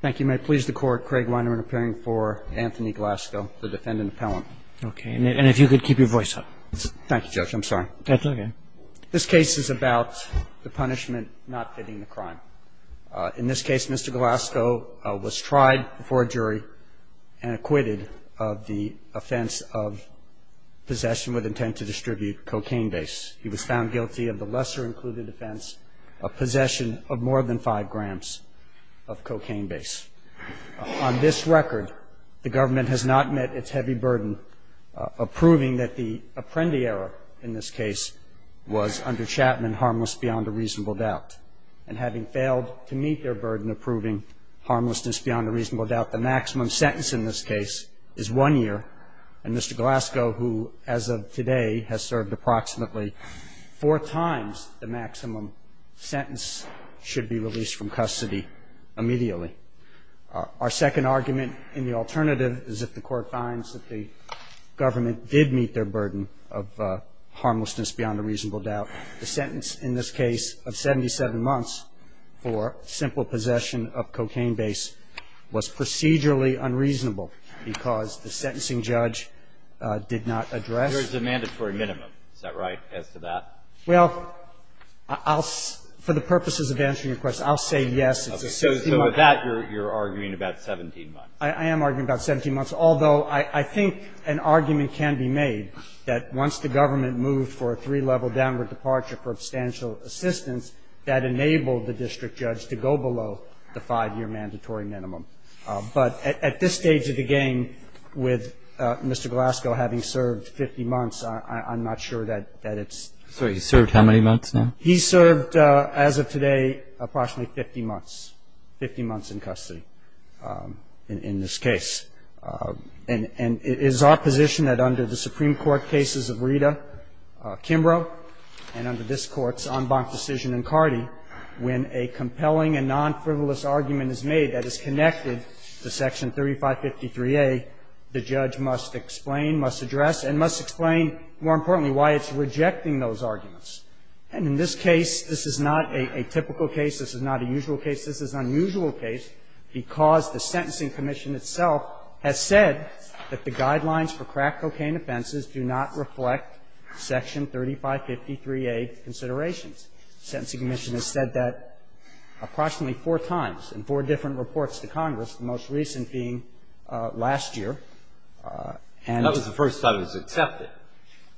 thank you may please the court Craig Weinerman appearing for Anthony Glasgow the defendant appellant okay and if you could keep your voice up thank you judge I'm sorry that's okay this case is about the punishment not fitting the crime in this case mr. Glasgow was tried before a jury and acquitted of the offense of possession with intent to distribute cocaine base he was found guilty of the lesser included offense of possession of more than five grams of cocaine base on this record the government has not met its heavy burden of proving that the Apprendi era in this case was under Chapman harmless beyond a reasonable doubt and having failed to meet their burden approving harmlessness beyond a reasonable doubt the maximum sentence in this case is one year and mr. Glasgow who as of today has served approximately four times the maximum sentence should be released from custody immediately our second argument in the alternative is if the court finds that the government did meet their burden of harmlessness beyond a reasonable doubt the sentence in this case of 77 months for simple possession of cocaine base was procedurally unreasonable because the sentencing judge did not address the mandatory minimum is that right as to that well I'll for the purposes of answering your question I'll say yes so that you're arguing about 17 months I am arguing about 17 months although I think an argument can be made that once the government moved for a three-level downward departure for substantial assistance that enabled the district judge to go below the five-year mandatory minimum but at this stage of the game with mr. Glasgow having served 50 months I'm not sure that that it's so he served how many months now he served as of today approximately 50 months 50 months in custody in this case and and it is our position that under the Supreme Court cases of Rita Kimbrough and under this courts on bonk decision and Cardi when a compelling and non-frivolous argument is made that is connected to section 3553 a the judge must explain must address and must explain more importantly why it's rejecting those arguments and in this case this is not a typical case this is not a usual case this is unusual case because the sentencing commission itself has said that the guidelines for crack cocaine offenses do not reflect section 3553 a considerations sentencing mission has said that approximately four times in four different reports to Congress most recent being last year and that was the first time it was accepted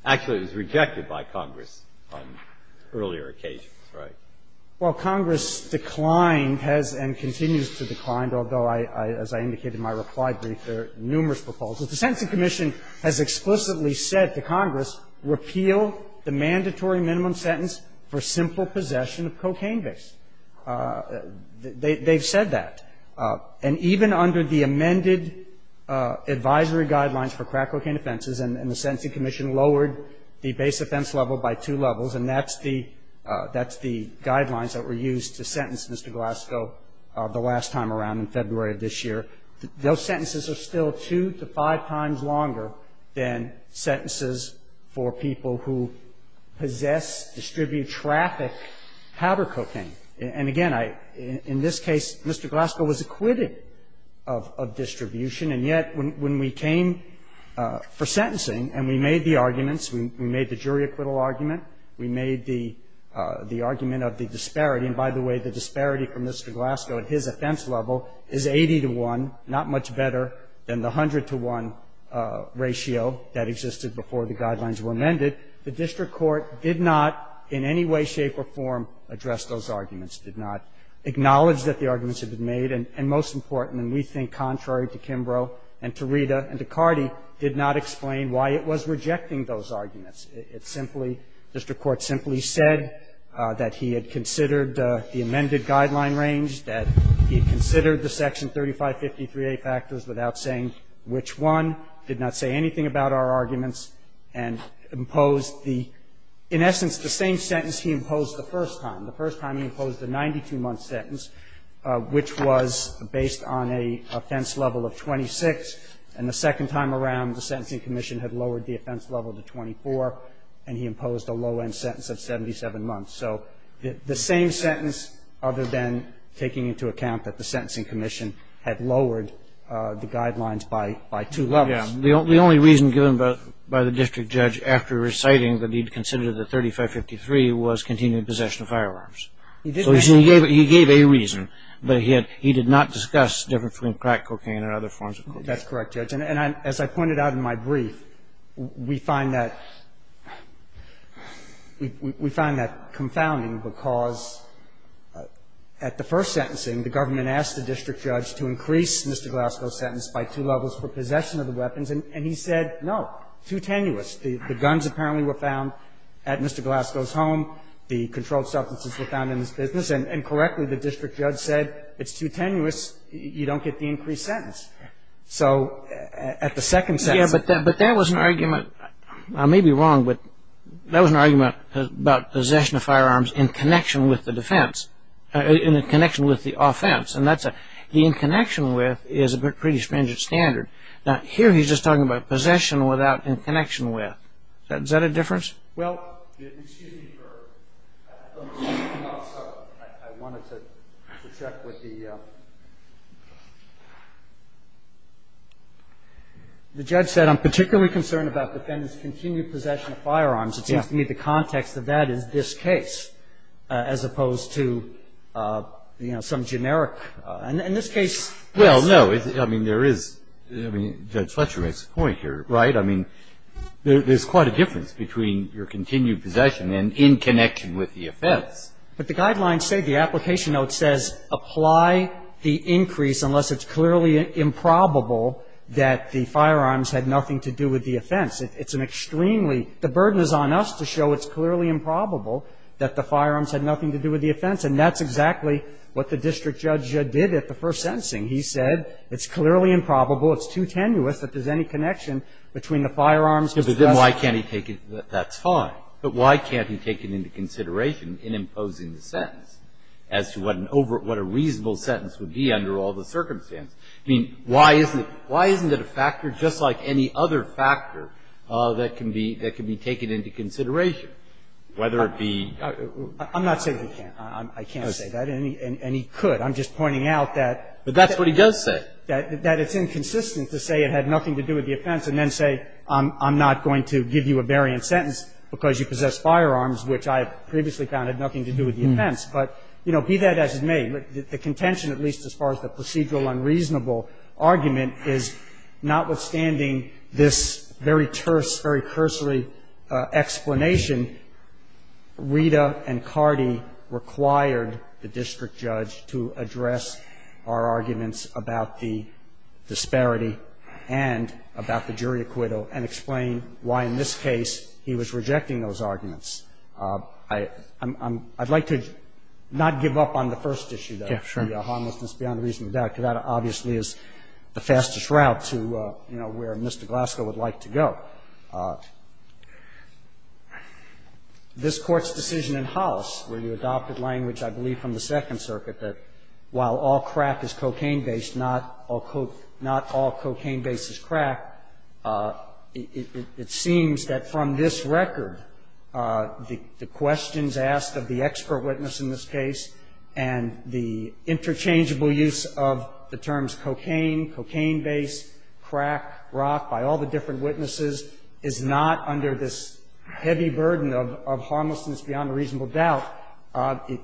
actually was rejected by Congress on earlier occasions right well Congress declined has and continues to decline although I as I indicated in my reply brief there are numerous proposals the sentencing commission has explicitly said to Congress repeal the mandatory minimum sentence for simple possession of cocaine based they they've said that and even under the amended advisory guidelines for crack cocaine offenses and the sentencing commission lowered the base offense level by two levels and that's the that's the guidelines that were used to sentence Mr. Glasgow the last time around in February of this year those sentences are still two to five times longer than sentences for people who possess distribute traffic powder cocaine and again I in this case Mr. Glasgow was acquitted of distribution and yet when we came for sentencing and we made the arguments we made the jury acquittal argument we made the the argument of the disparity and by the way the disparity from Mr. Glasgow at his offense level is 80 to one not much better than the hundred to one ratio that existed before the guidelines were made Mr. Glasgow did not in any way shape or form address those arguments did not acknowledge that the arguments have been made and most important and we think contrary to Kimbrough and to Rita and to Cardi did not explain why it was rejecting those arguments it simply Mr. Court simply said that he had considered the amended guideline range that he considered the section 3553a factors without saying which one did not say anything about our arguments and imposed the in essence the same sentence he imposed the first time the first time he imposed the 92 month sentence which was based on a offense level of 26 and the second time around the sentencing commission had lowered the offense level to 24 and he imposed a low end sentence of 77 months so the same sentence other than taking into account that the sentencing commission had lowered the guidelines by two levels the only reason given by the district judge after reciting that he considered the 3553 was continued possession of firearms so he gave a reason but he did not discuss difference between crack cocaine and other forms of cocaine that's correct judge and as I pointed out in my brief we find that we find that confounding because at the first sentencing the government asked the district judge to increase Mr. Glasgow's sentence by two levels for possession of the weapons and he said no too tenuous the guns apparently were found at Mr. Glasgow's home the controlled substances were found in his business and correctly the district judge said it's too tenuous you don't get the increased sentence so at the second sentence but that was an argument I may be wrong but that was an argument about possession of in connection with is a pretty standard here he's just talking about possession without in connection with is that a difference well excuse me I wanted to check with the the judge said I'm particularly concerned about defendants continued possession of firearms it seems to me the context of that is this case as opposed to some generic in this case well no I mean there is judge Fletcher makes a point here right I mean there's quite a difference between your continued possession and in connection with the offense but the guidelines say the application note says apply the increase unless it's clearly improbable that the firearms had nothing to do with the offense it's an extremely the burden is on us to show it's clearly improbable that the firearms had nothing to do with the offense and that's exactly what the district judge did at the first sentencing he said it's clearly improbable it's too tenuous that there's any connection between the firearms and Mr. Glasgow. But then why can't he take it that's fine but why can't he take it into consideration in imposing the sentence as to what an over what a reasonable sentence would be under all the circumstances I mean why isn't it why isn't it a factor just like any other factor that can be that can be taken into consideration whether it be. I'm not saying he can't I can't say that and he could I'm just pointing out that. But that's what he does say. That it's inconsistent to say it had nothing to do with the offense and then say I'm not going to give you a variant sentence because you possess firearms which I have previously found had nothing to do with the offense but you know be that as it may the contention at least as far as the procedural unreasonable argument is notwithstanding this very terse very cursory explanation Rita and Cardi required the district judge to address our arguments about the disparity and about the jury acquittal and explain why in this case he was rejecting those arguments. I'd like to not give up on the first issue though. The harmlessness beyond reasonable doubt because that obviously is the fastest route to you know where Mr. Glasgow would like to go. This Court's decision in house where you adopted language I believe from the Second Circuit that while all crack is cocaine based not all cocaine based is crack it seems that from this record the questions asked of the expert witness in this case and the interchangeable use of the terms cocaine, cocaine based, crack, rock by all the different witnesses is not under this heavy burden of harmlessness beyond reasonable doubt.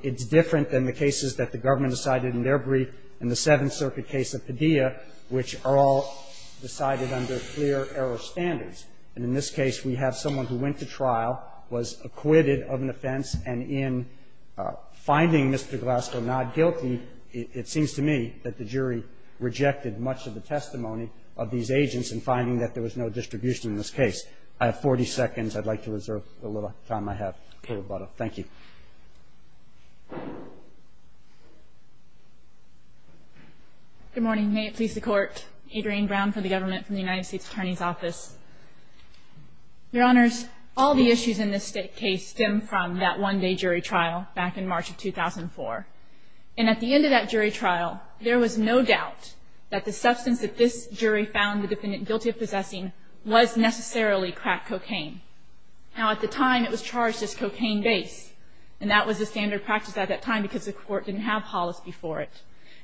It's different than the cases that the government decided in their brief in the Seventh Circuit case of Padilla which are all decided under clear error standards. And in this case we have someone who went to trial, was acquitted of an offense and in finding Mr. Glasgow not guilty it seems to me that the jury rejected much of the testimony of these agents in finding that there was no distribution in this case. I have 40 seconds. I'd like to reserve the little time I have. Thank you. Good morning. May it please the Court. Adrian Brown for the government from the United States Attorney's Office. Your Honors, all the issues in this case stem from that one day jury trial back in March of 2004. And at the end of that jury trial there was no doubt that the substance that this jury found the defendant guilty of possessing was necessarily crack cocaine. Now at the time it was charged as cocaine based and that was the standard practice at that time because the Court didn't have Hollis before it.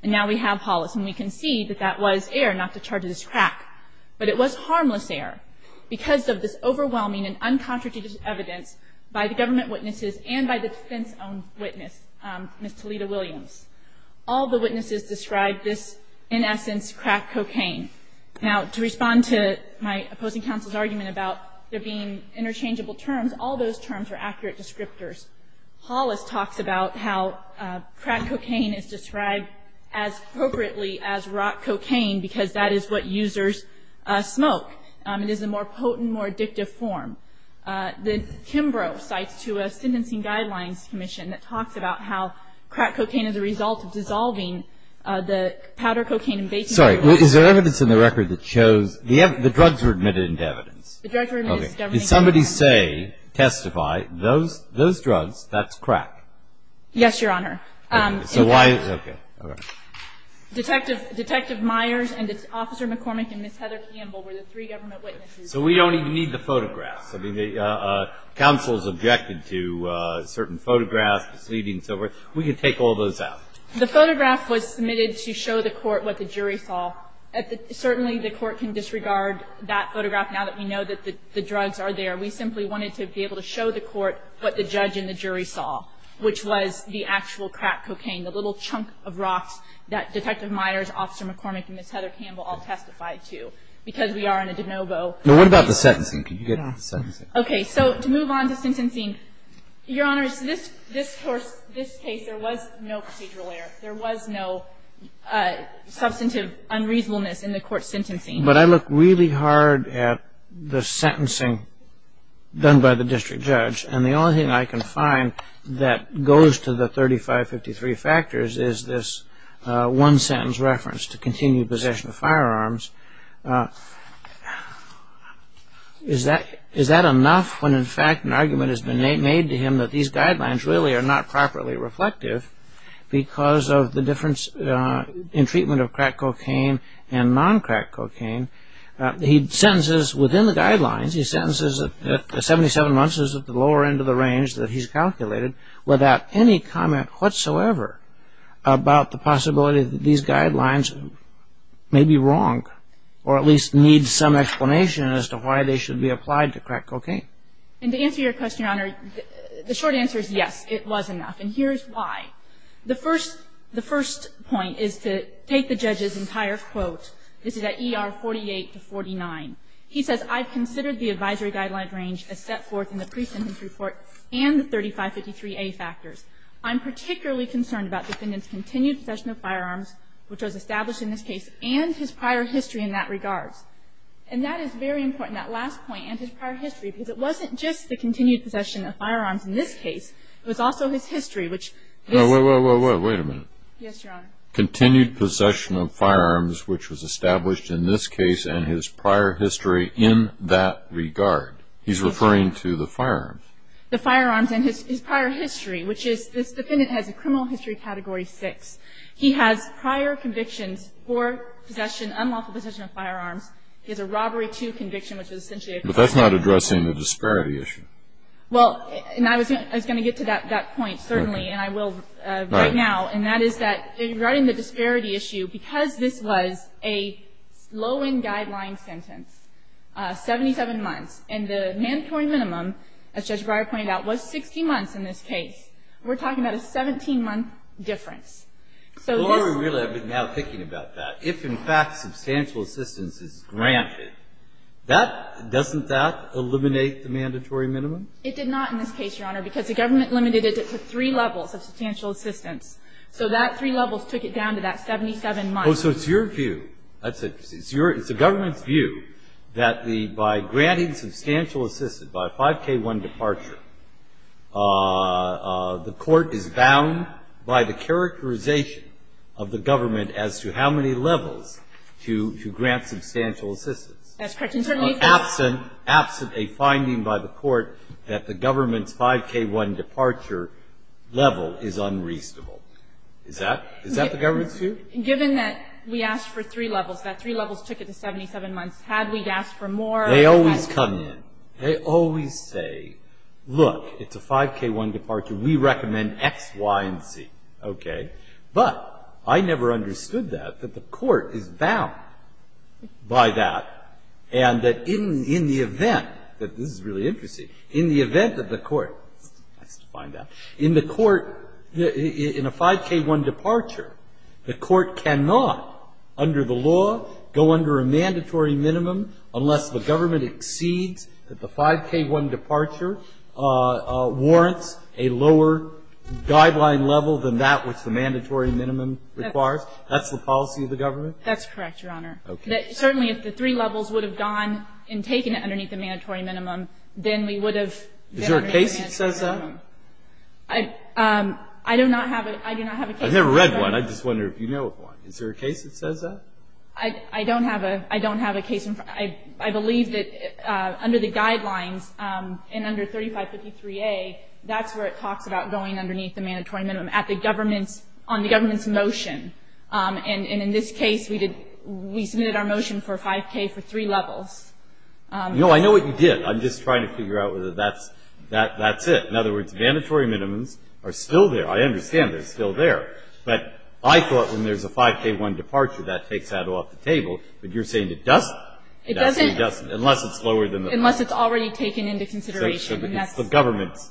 And now we have Hollis and we can see that that was error not to charge it as crack. But it was harmless error because of this overwhelming and uncontradicted evidence by the government witnesses and by the defense-owned witness, Ms. Talita Williams. All the witnesses described this in essence crack cocaine. Now to respond to my opposing counsel's argument about there being interchangeable terms, all those terms are accurate descriptors. Hollis talks about how crack cocaine is described as appropriately as rock cocaine because that is what users smoke. It is a more potent, more addictive form. The Kimbrough cites to a sentencing guidelines commission that talks about how crack cocaine is a result of dissolving the powder cocaine and baking soda. Sorry. Is there evidence in the record that shows the drugs were admitted into evidence? The drugs were admitted into evidence. Okay. Those drugs, that's crack? Yes, Your Honor. Okay. Detective Myers and Officer McCormick and Ms. Heather Campbell were the three government witnesses. So we don't even need the photographs. I mean, counsel's objected to certain photographs, proceedings, so forth. We can take all those out. The photograph was submitted to show the Court what the jury saw. Certainly the Court can disregard that photograph now that we know that the drugs are there. We simply wanted to be able to show the Court what the judge and the jury saw, which was the actual crack cocaine, the little chunk of rocks that Detective Myers, Officer McCormick, and Ms. Heather Campbell all testified to because we are in a de novo. Now, what about the sentencing? Can you get to the sentencing? Okay. So to move on to sentencing, Your Honor, this case, there was no procedural error. There was no substantive unreasonableness in the Court's sentencing. But I look really hard at the sentencing done by the district judge, and the only thing I can find that goes to the 3553 factors is this one-sentence reference, to continue possession of firearms. Is that enough when, in fact, an argument has been made to him that these guidelines really are not properly reflective because of the difference in treatment of crack cocaine. He sentences within the guidelines. He sentences at 77 months, which is at the lower end of the range that he's calculated, without any comment whatsoever about the possibility that these guidelines may be wrong, or at least need some explanation as to why they should be applied to crack cocaine. And to answer your question, Your Honor, the short answer is yes, it was enough, and here's why. The first point is to take the judge's entire quote. This is at ER 48-49. He says, I've considered the advisory guideline range as set forth in the pre-sentence report and the 3553A factors. I'm particularly concerned about the defendant's continued possession of firearms, which was established in this case, and his prior history in that regard. And that is very important, that last point, and his prior history, because it wasn't just the continued possession of firearms in this case, it was also his history, which this- Wait, wait, wait, wait, wait a minute. Yes, Your Honor. Continued possession of firearms, which was established in this case, and his prior history in that regard. He's referring to the firearms. The firearms and his prior history, which is, this defendant has a criminal history category 6. He has prior convictions for possession, unlawful possession of firearms. He has a robbery 2 conviction, which is essentially a- But that's not addressing the disparity issue. Well, and I was going to get to that point, certainly, and I will right now. And that is that regarding the disparity issue, because this was a low-end guideline sentence, 77 months, and the mandatory minimum, as Judge Breyer pointed out, was 60 months in this case, we're talking about a 17-month difference. So this- The more we realize, now thinking about that, if, in fact, substantial assistance is granted, that, doesn't that eliminate the mandatory minimum? It did not in this case, Your Honor, because the government limited it to three levels of substantial assistance. So that three levels took it down to that 77 months. Oh, so it's your view. That's it. It's the government's view that the, by granting substantial assistance, by a 5K1 departure, the court is bound by the characterization of the government as to how many levels to grant substantial assistance. That's correct. Absent a finding by the court that the government's 5K1 departure level is unreasonable. Is that the government's view? Given that we asked for three levels, that three levels took it to 77 months, had we asked for more- They always come in. They always say, look, it's a 5K1 departure. We recommend X, Y, and Z. Okay? But I never understood that, that the court is bound by that, and that in the event that, this is really interesting, in the event that the court, nice to find out, in the court, in a 5K1 departure, the court cannot, under the law, go under a mandatory minimum unless the government exceeds that the 5K1 departure warrants a lower guideline level than that which the mandatory minimum requires? That's the policy of the government? That's correct, Your Honor. Okay. Certainly, if the three levels would have gone and taken it underneath the mandatory minimum, then we would have- Is there a case that says that? I do not have a case- I've never read one. I just wonder if you know of one. Is there a case that says that? I don't have a case. I believe that under the guidelines, and under 3553A, that's where it talks about going underneath the mandatory minimum, at the government's, on the government's motion. And in this case, we did, we submitted our motion for 5K for three levels. No, I know what you did. I'm just trying to figure out whether that's, that's it. In other words, mandatory minimums are still there. I understand they're still there. But I thought when there's a 5K1 departure, that takes that off the table. But you're saying it doesn't? It doesn't. Unless it's lower than the- Unless it's already taken into consideration. So it's the government's.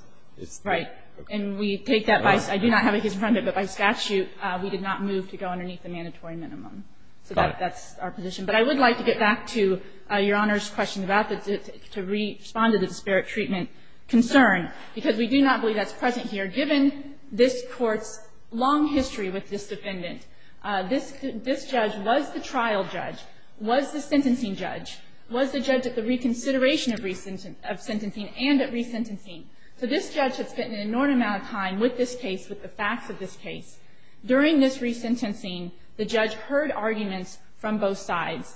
Right. And we take that by, I do not have a case in front of it, but by statute, we did not move to go underneath the mandatory minimum. Got it. So that's our position. But I would like to get back to Your Honor's question about the, to respond to the disparate treatment concern, because we do not believe that's present here. Given this Court's long history with this defendant, this judge was the trial judge judge, was the sentencing judge, was the judge at the reconsideration of sentencing and at resentencing. So this judge has spent an inordinate amount of time with this case, with the facts of this case. During this resentencing, the judge heard arguments from both sides,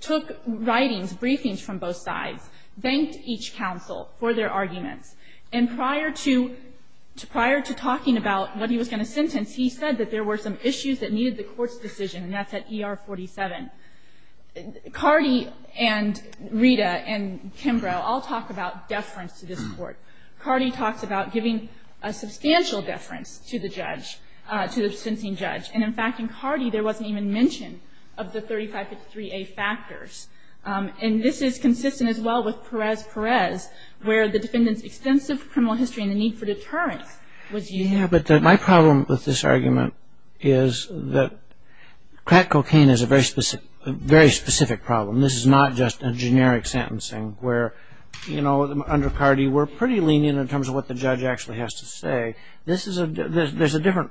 took writings, briefings from both sides, thanked each counsel for their arguments. And prior to, prior to talking about what he was going to sentence, he said that there were some issues that needed the Court's decision, and that's at ER 47. Cardi and Rita and Kimbrough all talk about deference to this Court. Cardi talks about giving a substantial deference to the judge, to the sentencing judge. And, in fact, in Cardi, there wasn't even mention of the 3553A factors. And this is consistent as well with Perez-Perez, where the defendant's extensive criminal history and the need for deterrence was used. Yeah, but my problem with this argument is that crack cocaine is a very specific problem. This is not just a generic sentencing where, you know, under Cardi, we're pretty lenient in terms of what the judge actually has to say. This is a, there's a different,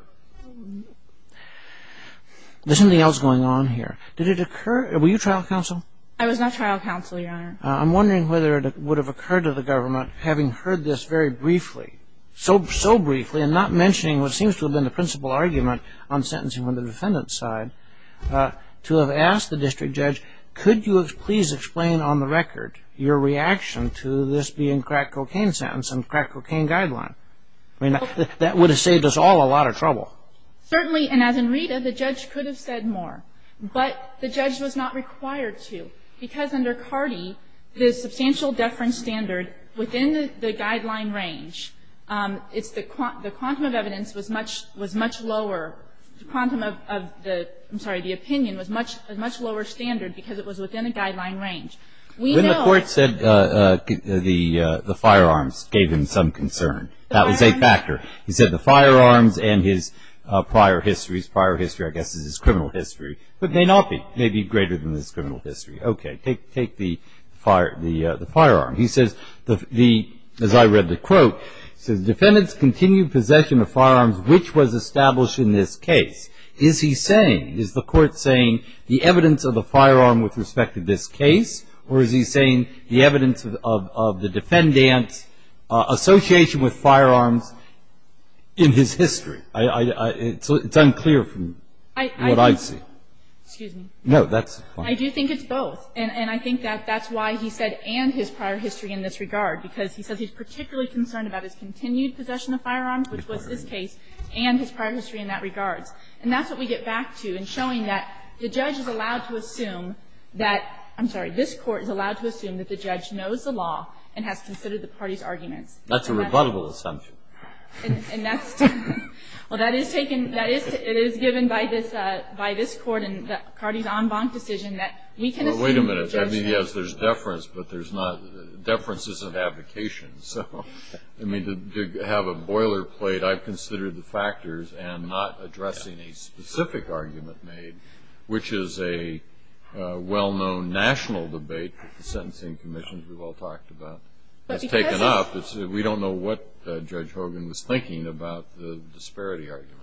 there's something else going on here. Did it occur, were you trial counsel? I was not trial counsel, Your Honor. I'm wondering whether it would have occurred to the government, having heard this very briefly, so briefly, and not mentioning what seems to have been the principal argument on sentencing on the defendant's side, to have asked the district judge, could you please explain on the record your reaction to this being a crack cocaine sentence and crack cocaine guideline? I mean, that would have saved us all a lot of trouble. Certainly, and as in Rita, the judge could have said more. But the judge was not required to, because under Cardi, the substantial deference standard within the guideline range, it's the, the quantum of evidence was much, was much lower, the quantum of the, I'm sorry, the opinion was much, a much lower standard because it was within a guideline range. We know. When the court said the firearms gave him some concern, that was a factor. He said the firearms and his prior histories, prior history I guess is his criminal history, but may not be, may be greater than his criminal history. Okay. Take, take the fire, the, the firearm. He says the, the, as I read the quote, it says, defendant's continued possession of firearms which was established in this case. Is he saying, is the court saying the evidence of the firearm with respect to this case, or is he saying the evidence of, of, of the defendant's association with firearms in his history? I, I, it's unclear from what I see. Excuse me. No, that's fine. I do think it's both. And, and I think that that's why he said and his prior history in this regard, because he said he's particularly concerned about his continued possession of firearms, which was this case, and his prior history in that regards. And that's what we get back to in showing that the judge is allowed to assume that, I'm sorry, this Court is allowed to assume that the judge knows the law and has considered the party's arguments. That's a rebuttable assumption. And, and that's, well, that is taken, that is, it is given by this, by this Court and, and the party's en banc decision that we can assume that the judge knows. Well, wait a minute. I mean, yes, there's deference, but there's not, deference isn't abdication. So, I mean, to, to have a boilerplate, I've considered the factors and not addressing a specific argument made, which is a well-known national debate that the Sentencing Commission, who we've all talked about, has taken up. It's, we don't know what Judge Hogan was thinking about the disparity argument.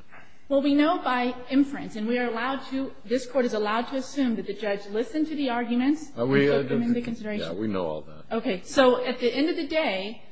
Well, we know by inference, and we are allowed to, this Court is allowed to assume that the judge listened to the arguments and took them into consideration. Are we, yeah, we know all that. Okay. So at the end of the day,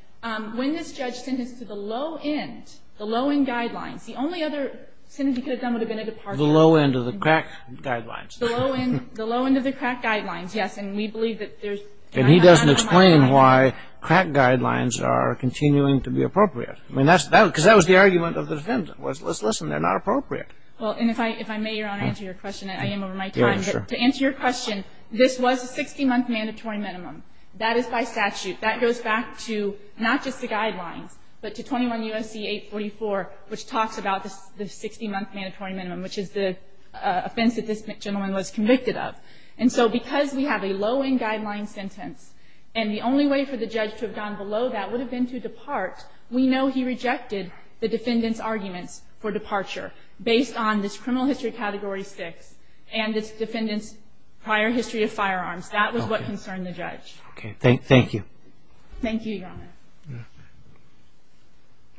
when this judge sentenced to the low end, the low end guidelines, the only other sentence he could have done would have been a departure. The low end of the crack guidelines. The low end, the low end of the crack guidelines, yes. And we believe that there's. And he doesn't explain why crack guidelines are continuing to be appropriate. I mean, that's, because that was the argument of the defendant was, let's listen, they're not appropriate. Well, and if I, if I may, Your Honor, answer your question. I am over my time. To answer your question, this was a 60-month mandatory minimum. That is by statute. That goes back to not just the guidelines, but to 21 U.S.C. 844, which talks about the 60-month mandatory minimum, which is the offense that this gentleman was convicted of. And so because we have a low end guideline sentence, and the only way for the judge to have gone below that would have been to depart, we know he rejected the defendant's arguments for departure based on this criminal history category 6 and this defendant's prior history of firearms. That was what concerned the judge. Okay. Thank you. Thank you, Your Honor.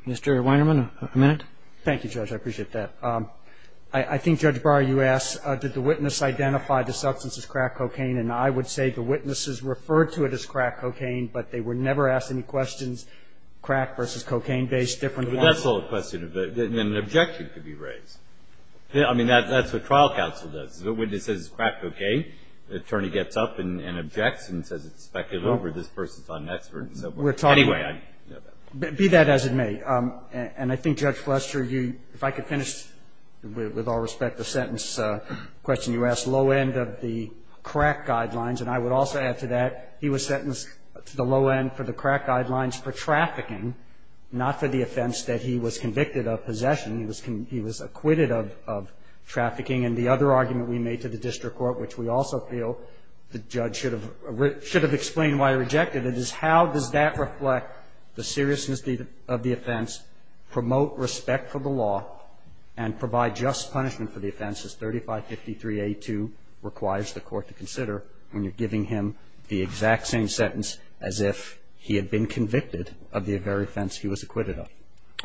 Mr. Weinerman, a minute? Thank you, Judge. I appreciate that. I think, Judge Barr, you asked, did the witness identify the substance as crack cocaine? And I would say the witnesses referred to it as crack cocaine, but they were never asked any questions. Crack versus cocaine-based, different. That's the whole question. An objection could be raised. I mean, that's what trial counsel does. The witness says it's crack cocaine. The attorney gets up and objects and says it's speculative or this person's not an expert and so forth. Anyway, I know that. Be that as it may. And I think, Judge Flester, if I could finish, with all respect, the sentence you asked, low end of the crack guidelines. And I would also add to that, he was sentenced to the low end for the crack guidelines for trafficking, not for the offense that he was convicted of possession. He was acquitted of trafficking. And the other argument we made to the district court, which we also feel the judge should have explained why he rejected it, is how does that reflect the seriousness of the offense, promote respect for the law, and provide just punishment for the offense as 3553A2 requires the court to consider when you're giving him the exact same sentence as if he had been convicted of the very offense he was acquitted of.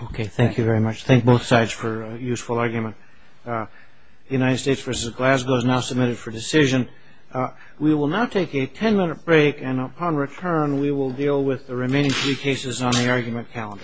Okay. Thank you very much. Thank both sides for a useful argument. United States versus Glasgow is now submitted for decision. We will now take a ten-minute break, and upon return we will deal with the remaining three cases on the argument calendar.